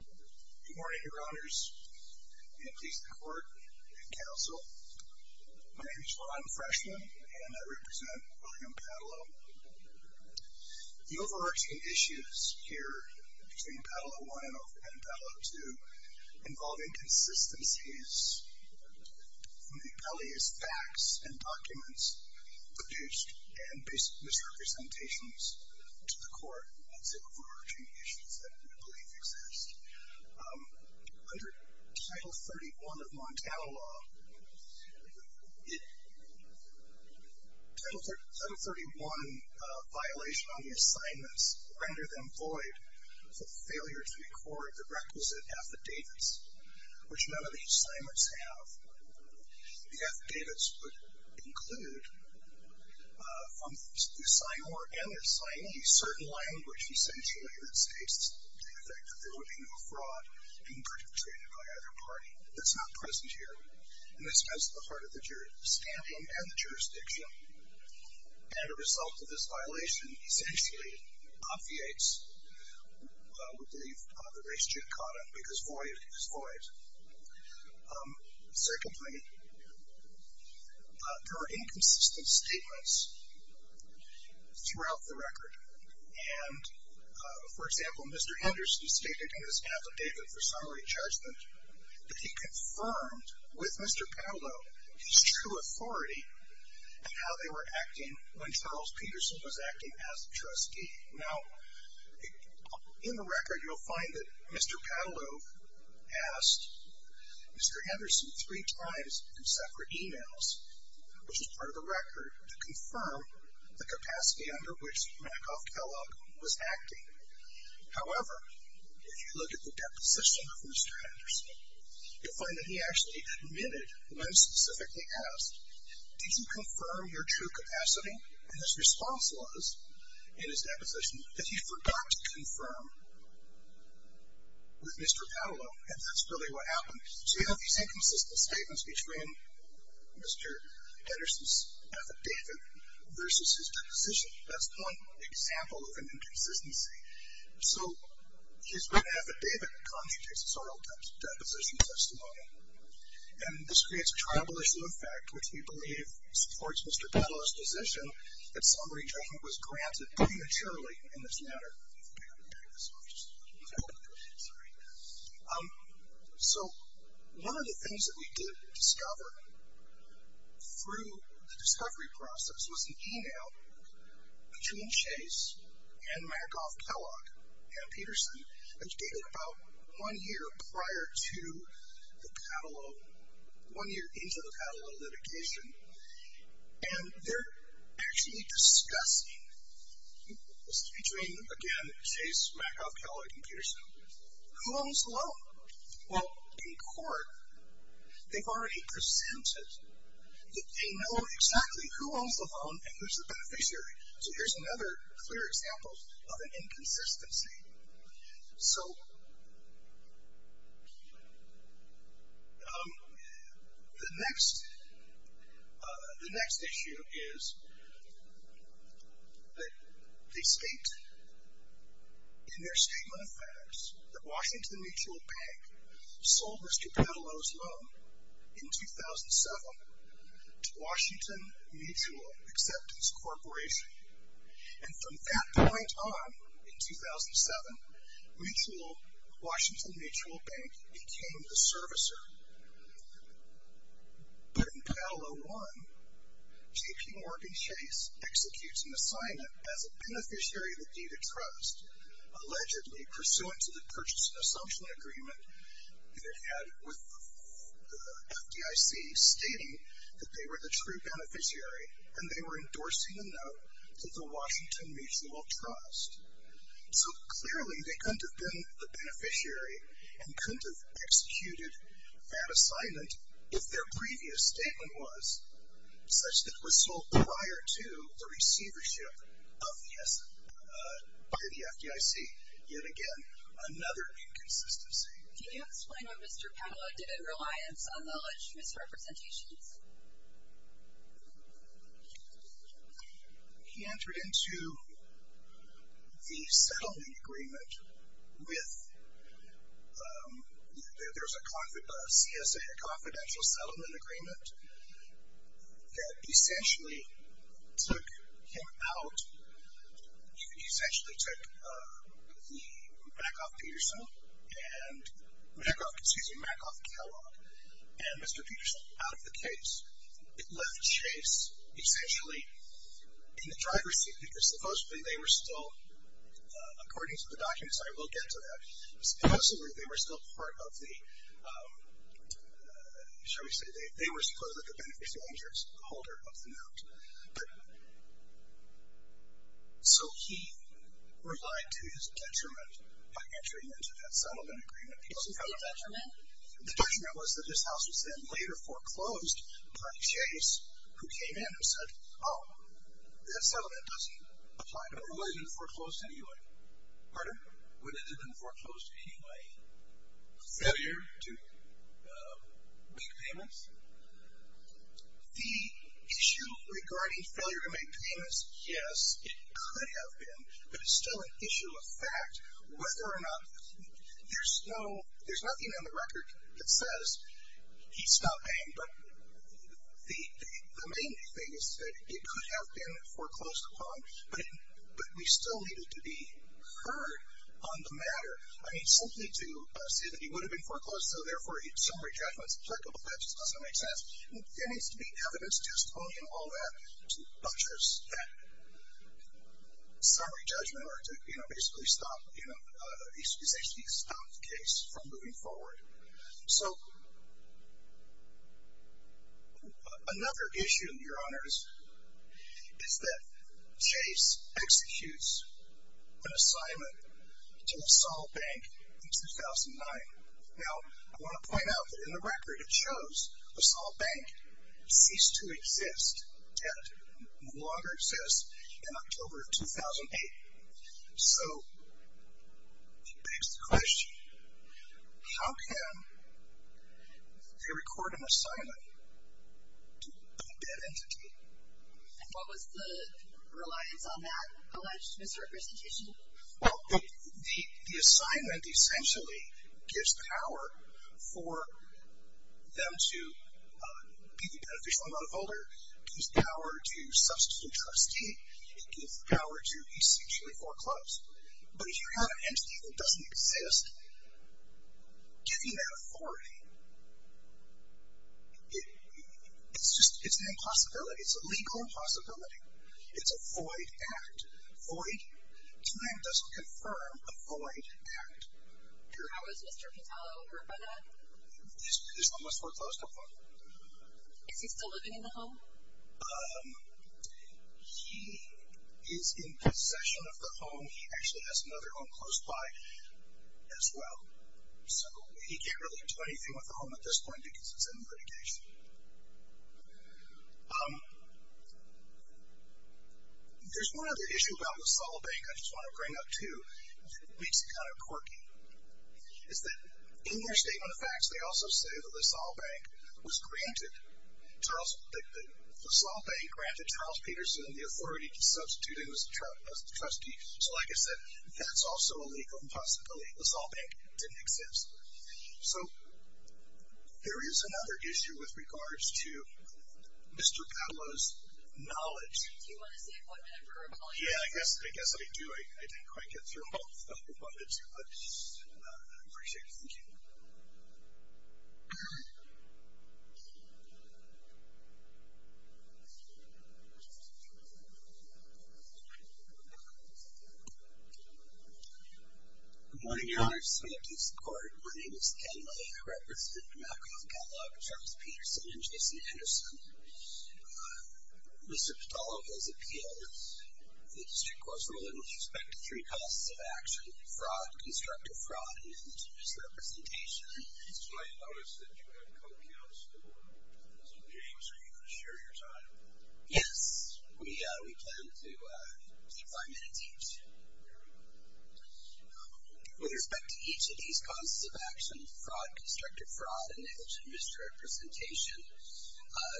Good morning Your Honors and please the court and counsel. My name is Ron Freshman and I represent William Paatalo. The overarching issues here between Paatalo 1 and Paatalo 2 involve inconsistencies from the rebellious facts and documents produced and misrepresentations to the court. That's the overarching issues that we believe exist. Under Title 31 of Montana law, Title 31 violation on the assignments render them void for failure to record the requisite affidavits, which none of the assignments have. The affidavits would include, from the sign org and their signees, certain language essentially that states the effect that there would be no fraud being perpetrated by either party. That's not present here. And this is at the heart of the scamming and the jurisdiction. And a result of this violation, essentially, affiates, we believe, the race judicata because void is void. Secondly, there are inconsistent statements throughout the record. And, for example, Mr. Henderson stated in his affidavit for summary judgment that he confirmed with Mr. Paatalo his true authority in how they were acting when Charles Peterson was acting as the trustee. Now, in the record, you'll find that Mr. Paatalo asked Mr. Henderson three times in separate e-mails, which is part of the record, to confirm the capacity under which Makov Kellogg was acting. However, if you look at the deposition of Mr. Henderson, you'll find that he actually admitted when specifically asked, did you confirm your true capacity? And his response was, in his deposition, that he forgot to confirm with Mr. Paatalo. And that's really what happened. So you have these inconsistent statements between Mr. Henderson's affidavit versus his deposition. That's one example of an inconsistency. So his written affidavit constitutes a soil deposition testimony. And this creates a tribal issue of fact, which we believe supports Mr. Paatalo's position that summary judgment was granted prematurely in this matter. So one of the things that we did discover through the discovery process was an e-mail between Chase and Makov Kellogg, and Peterson, which dated about one year prior to the Paatalo, one year into the Paatalo litigation. And they're actually discussing, between, again, Chase, Makov, Kellogg, and Peterson, who owns the phone? Well, in court, they've already presented that they know exactly who owns the phone and who's the beneficiary. So here's another clear example of an inconsistency. So the next issue is that they state in their statement of facts that Washington Mutual Bank sold Mr. Paatalo's loan in 2007 to Washington Mutual Acceptance Corporation. And from that point on, in 2007, Washington Mutual Bank became the servicer. But in Paatalo 1, J.P. Morgan Chase executes an assignment as a beneficiary of the Deed of Trust, allegedly pursuant to the purchase and assumption agreement that it had with the FDIC, stating that they were the true beneficiary, and they were endorsing a note to the Washington Mutual Trust. So clearly, they couldn't have been the beneficiary and couldn't have executed that assignment if their previous statement was such that it was sold prior to the receivership of the FDIC. Yet again, another inconsistency. Can you explain why Mr. Paatalo didn't reliance on the alleged misrepresentations? He entered into the settlement agreement with – there was a CSA, a confidential settlement agreement, that essentially took him out. He essentially took the Makoff-Peterson and – excuse me, Makoff-Kellogg and Mr. Peterson out of the case. It left Chase essentially in the driver's seat because supposedly they were still – according to the documents, I will get to that. Supposedly, they were still part of the – shall we say they were supposedly the beneficiary and the holder of the note. But – so he relied to his detriment by entering into that settlement agreement. What was his detriment? The detriment was that his house was then later foreclosed by Chase, who came in and said, oh, that settlement doesn't apply to us. Would it have been foreclosed anyway? Pardon? Would it have been foreclosed anyway? Failure to make payments? The issue regarding failure to make payments, yes, it could have been, but it's still an issue of fact. Whether or not – there's no – there's nothing on the record that says he's not paying, but the main thing is that it could have been foreclosed upon, but we still need it to be heard on the matter. I mean, simply to say that he would have been foreclosed, so therefore summary judgment is applicable, that just doesn't make sense. There needs to be evidence, testimony, and all that to buttress that summary judgment or to basically stop – essentially stop the case from moving forward. So another issue, Your Honors, is that Chase executes an assignment to Assault Bank in 2009. Now, I want to point out that in the record it shows Assault Bank ceased to exist, and no longer exists, in October of 2008. So it begs the question, how can they record an assignment to a bank-debt entity? And what was the reliance on that alleged misrepresentation? Well, the assignment essentially gives power for them to be the beneficial amount of holder, gives power to substitute trustee, it gives power to essentially foreclose. But if you have an entity that doesn't exist, giving that authority, it's an impossibility. It's a legal impossibility. It's a void act. Void? Time doesn't confirm a void act. How was Mr. Pitalo hurt by that? His home was foreclosed upon. Is he still living in the home? He is in possession of the home. He actually has another home close by as well. So he can't relate to anything with the home at this point because it's in litigation. There's one other issue about LaSalle Bank I just want to bring up, too, that makes it kind of quirky. It's that in their statement of facts, they also say that LaSalle Bank was granted, LaSalle Bank granted Charles Peterson the authority to substitute him as the trustee. So, like I said, that's also a legal impossibility. LaSalle Bank didn't exist. So there is another issue with regards to Mr. Pitalo's knowledge. Do you want to say what member of LaSalle Bank? Yeah, I guess I do. I didn't quite get through all of it, but I appreciate it. Thank you. Good morning, Your Honor. Senate Peace Court. My name is Ken Miller. I represent the McAuliffe Catalog of Charles Peterson and Jason Henderson. Mr. Pitalo has appealed the district court's ruling with respect to three causes of action, fraud, constructive fraud, and negligent misrepresentation. I noticed that you have co-counsel as a witness. Are you going to share your time? Yes. We plan to take five minutes each. With respect to each of these causes of action, fraud, constructive fraud, and negligent misrepresentation,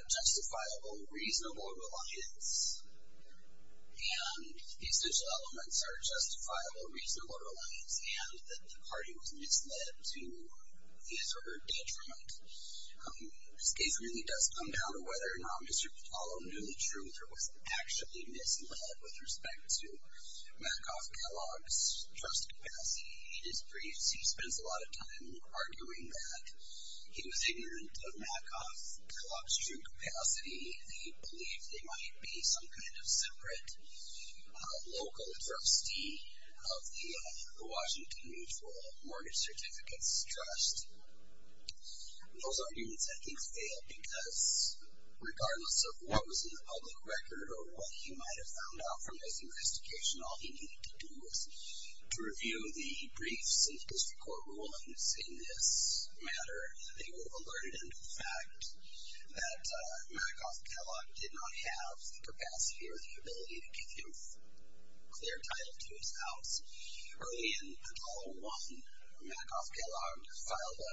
justifiable reasonable reliance, and these digital elements are justifiable reasonable reliance, and that the party was misled to his or her detriment. This case really does come down to whether or not Mr. Pitalo knew the truth or was actually misled with respect to McAuliffe Catalog's trust capacity. He spends a lot of time arguing that he was ignorant of McAuliffe Catalog's true capacity and he believed they might be some kind of separate local trustee of the Washington Mutual Mortgage Certificates Trust. Those arguments, I think, failed because regardless of what was in the public record or what he might have found out from his investigation, all he needed to do was to review the briefs and district court rulings in this matter and they would have alerted him to the fact that McAuliffe Catalog did not have the capacity or the ability to give him clear title to his house. Early in Apollo 1, McAuliffe Catalog filed a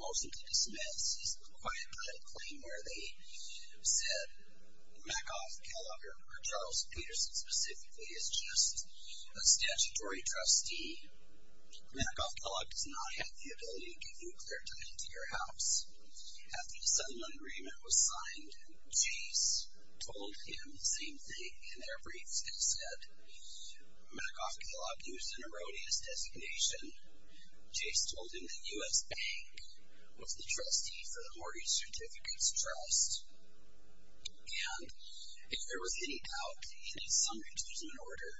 motion to dismiss. It's a quiet title claim where they said McAuliffe Catalog, or Charles Peterson specifically, is just a statutory trustee. McAuliffe Catalog does not have the ability to give you clear title to your house. After the settlement agreement was signed, Chase told him the same thing in their briefs and said McAuliffe Catalog used an erroneous designation. Chase told him that U.S. Bank was the trustee for the Mortgage Certificates Trust and if there was any doubt in his summary judgment order,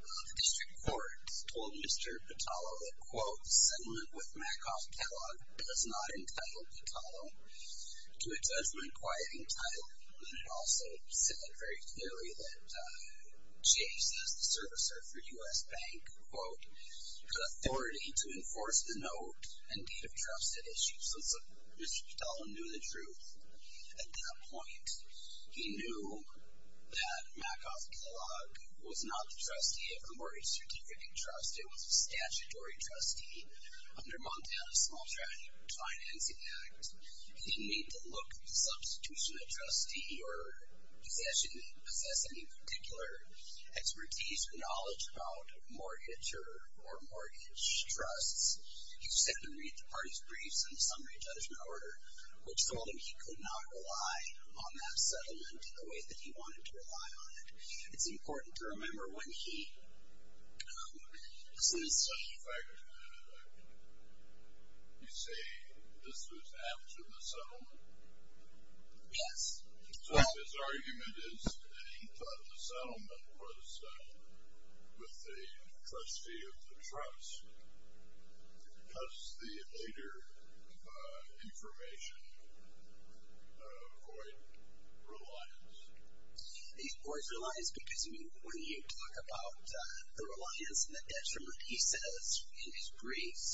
the district court told Mr. Patalo that, quote, the settlement with McAuliffe Catalog does not entitle Patalo to a judgment quieting title. And it also said very clearly that Chase, as the servicer for U.S. Bank, quote, has authority to enforce the note and date of trust at issue. So Mr. Patalo knew the truth at that point. He knew that McAuliffe Catalog was not the trustee of the Mortgage Certificate Trust. It was a statutory trustee. Under Montana's Small Trafficking and Financing Act, he didn't need to look at the substitution of trustee or possession, possess any particular expertise or knowledge about mortgager or mortgage trusts. He simply read the party's briefs and summary judgment order, which told him he could not rely on that settlement the way that he wanted to rely on it. It's important to remember when he, as soon as- As a matter of fact, you say this was after the settlement? Yes. So his argument is that he thought the settlement was with the trustee of the trust? Does the later information avoid reliance? It avoids reliance because when you talk about the reliance and the detriment, he says in his briefs,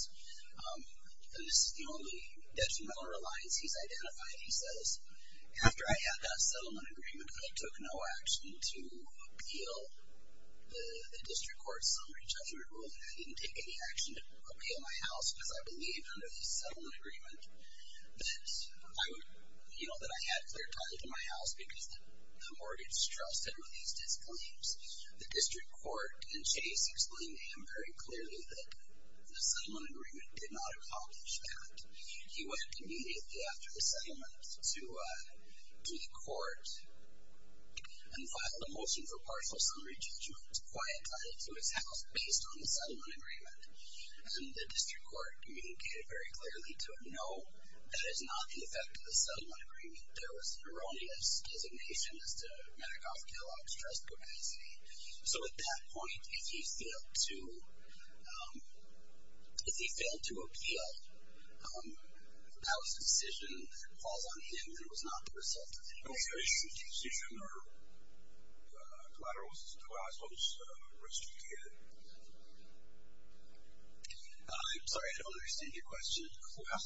this is the only detrimental reliance he's identified. He says, after I had that settlement agreement, I took no action to appeal the district court's summary judgment rule and I didn't take any action to appeal my house because I believed under the settlement agreement that I had clear ties to my house because the mortgage trust had released its claims. The district court in Chase explained to him very clearly that the settlement agreement did not accomplish that. He went immediately after the settlement to the court and filed a motion for partial summary judgment. He was quieted to his house based on the settlement agreement. And the district court communicated very clearly to him, no, that is not the effect of the settlement agreement. There was an erroneous designation as to Madoff-Kellogg's trust capacity. So at that point, if he failed to appeal, Alice's decision falls on him and it was not the result of the agreement. Was the decision or collateral to Oslo's risk to the kid? I'm sorry, I don't understand your question. Well,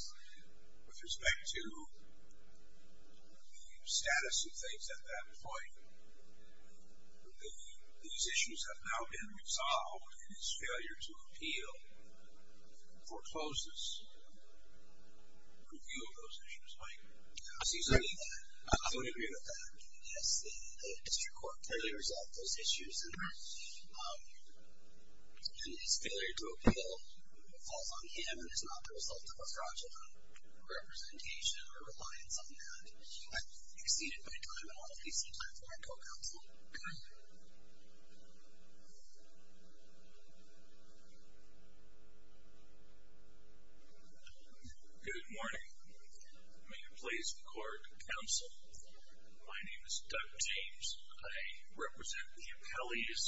with respect to the status of things at that point, these issues have now been resolved, and his failure to appeal forecloses review of those issues, Mike. I don't agree with that. Yes, the district court clearly resolved those issues, and his failure to appeal falls on him and is not the result of a fraudulent representation or reliance on that. I've exceeded my time, and I'll increase the time for my co-counsel. Good morning. May I please record counsel? My name is Doug James. I represent the appellees,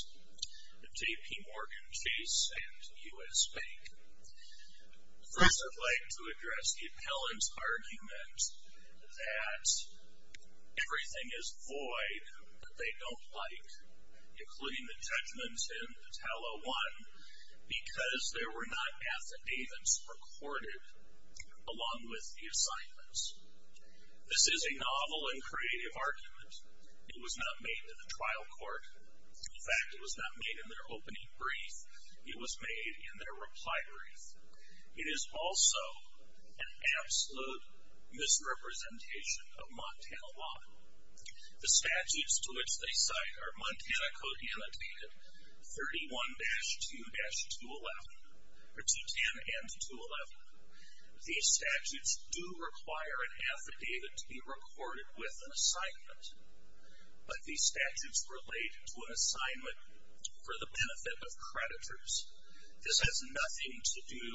JPMorgan Chase and U.S. Bank. First, I'd like to address the appellant's argument that everything is void that they don't like, including the judgments in Attala 1, because there were not affidavits recorded along with the assignments. This is a novel and creative argument. It was not made in the trial court. In fact, it was not made in their opening brief. It was made in their reply brief. It is also an absolute misrepresentation of Montana law. The statutes to which they cite are Montana Code Annotated 31-210 and 211. These statutes do require an affidavit to be recorded with an assignment, but these statutes relate to an assignment for the benefit of creditors. This has nothing to do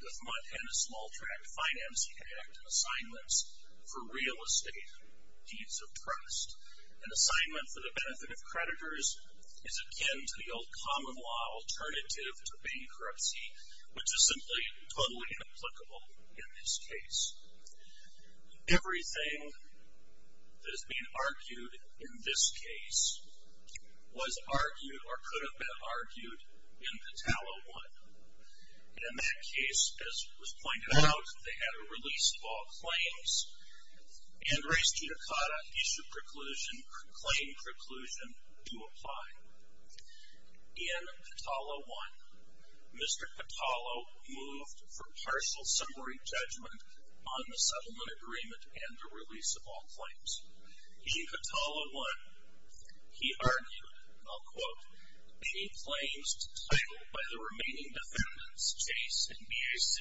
with Montana Small Tract Finance Act assignments for real estate deeds of trust. An assignment for the benefit of creditors is akin to the old common law alternative to bankruptcy, which is simply totally inapplicable in this case. Everything that has been argued in this case was argued or could have been argued in Attala 1. In that case, as was pointed out, they had a release of all claims, and Reyes-Tutakata issued a claim preclusion to apply. In Attala 1, Mr. Attala moved for partial summary judgment on the settlement agreement and the release of all claims. In Attala 1, he argued, and I'll quote, any claims to title by the remaining defendants, Chase and B.I.C.,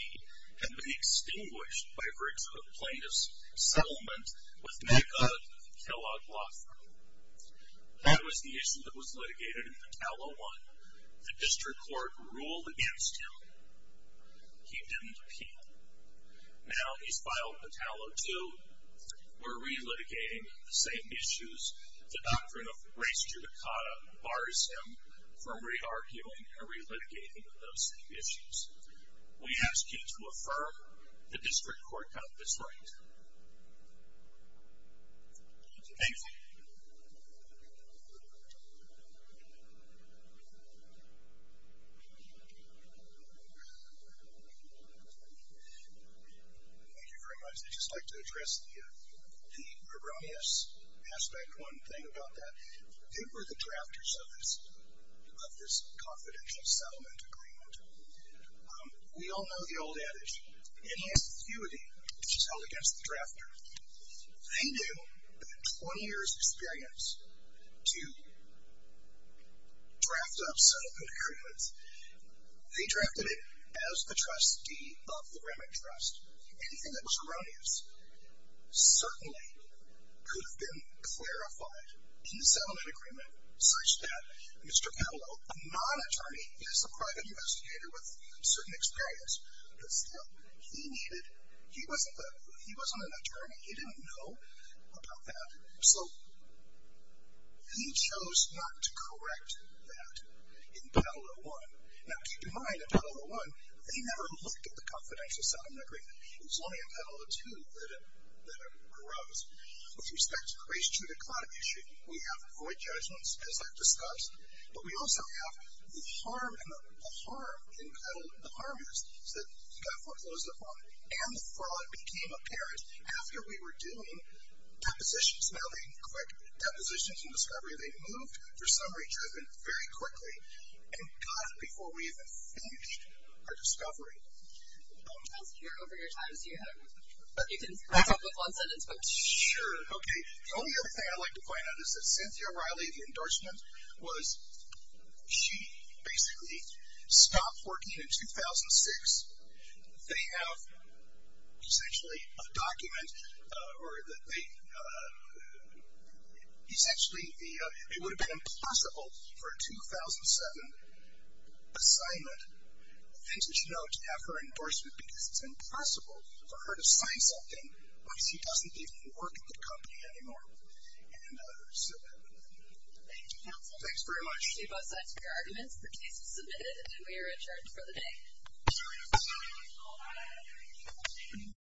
had been extinguished by virtue of plaintiff's settlement with Magog and Kellogg Law Firm. That was the issue that was litigated in Attala 1. The district court ruled against him. He didn't appeal. Now he's filed Attala 2. We're re-litigating the same issues. The doctrine of Reyes-Tutakata bars him from re-arguing or re-litigating those same issues. We ask you to affirm the district court got this right. Thank you. Thank you very much. I'd just like to address the Erroneous Aspect 1 thing about that. Who were the drafters of this confidential settlement agreement? We all know the old adage, any ambiguity which is held against the drafter, they knew that 20 years' experience to draft up settlement agreements, they drafted it as the trustee of the Remington Trust. Anything that was erroneous certainly could have been clarified in the settlement agreement, such that Mr. Kattelow, a non-attorney, is a private investigator with certain experience, but still, he wasn't an attorney. He didn't know about that. So he chose not to correct that in Attala 1. Now keep in mind, in Attala 1, they never looked at the confidential settlement agreement. It was only in Attala 2 that it arose. With respect to the Reyes-Tutakata issue, we have void judgments as I've discussed, but we also have the harm in Attala 1. The harm is that he got foreclosed upon, and the fraud became apparent after we were doing depositions. Now they correct depositions and discovery. They moved for summary judgment very quickly and got it before we even finished our discovery. I was here over your time, so you can talk with one sentence. Sure, okay. The only other thing I'd like to point out is that Cynthia Riley, the endorsement, was she basically stopped working in 2006. They have essentially a document, or they essentially, it would have been impossible for a 2007 assignment, a vintage note to have her endorsement because it's impossible for her to sign something when she doesn't even work at the company anymore. Thank you, counsel. Thanks very much. We have both sides of your arguments. The case is submitted, and we are adjourned for the day.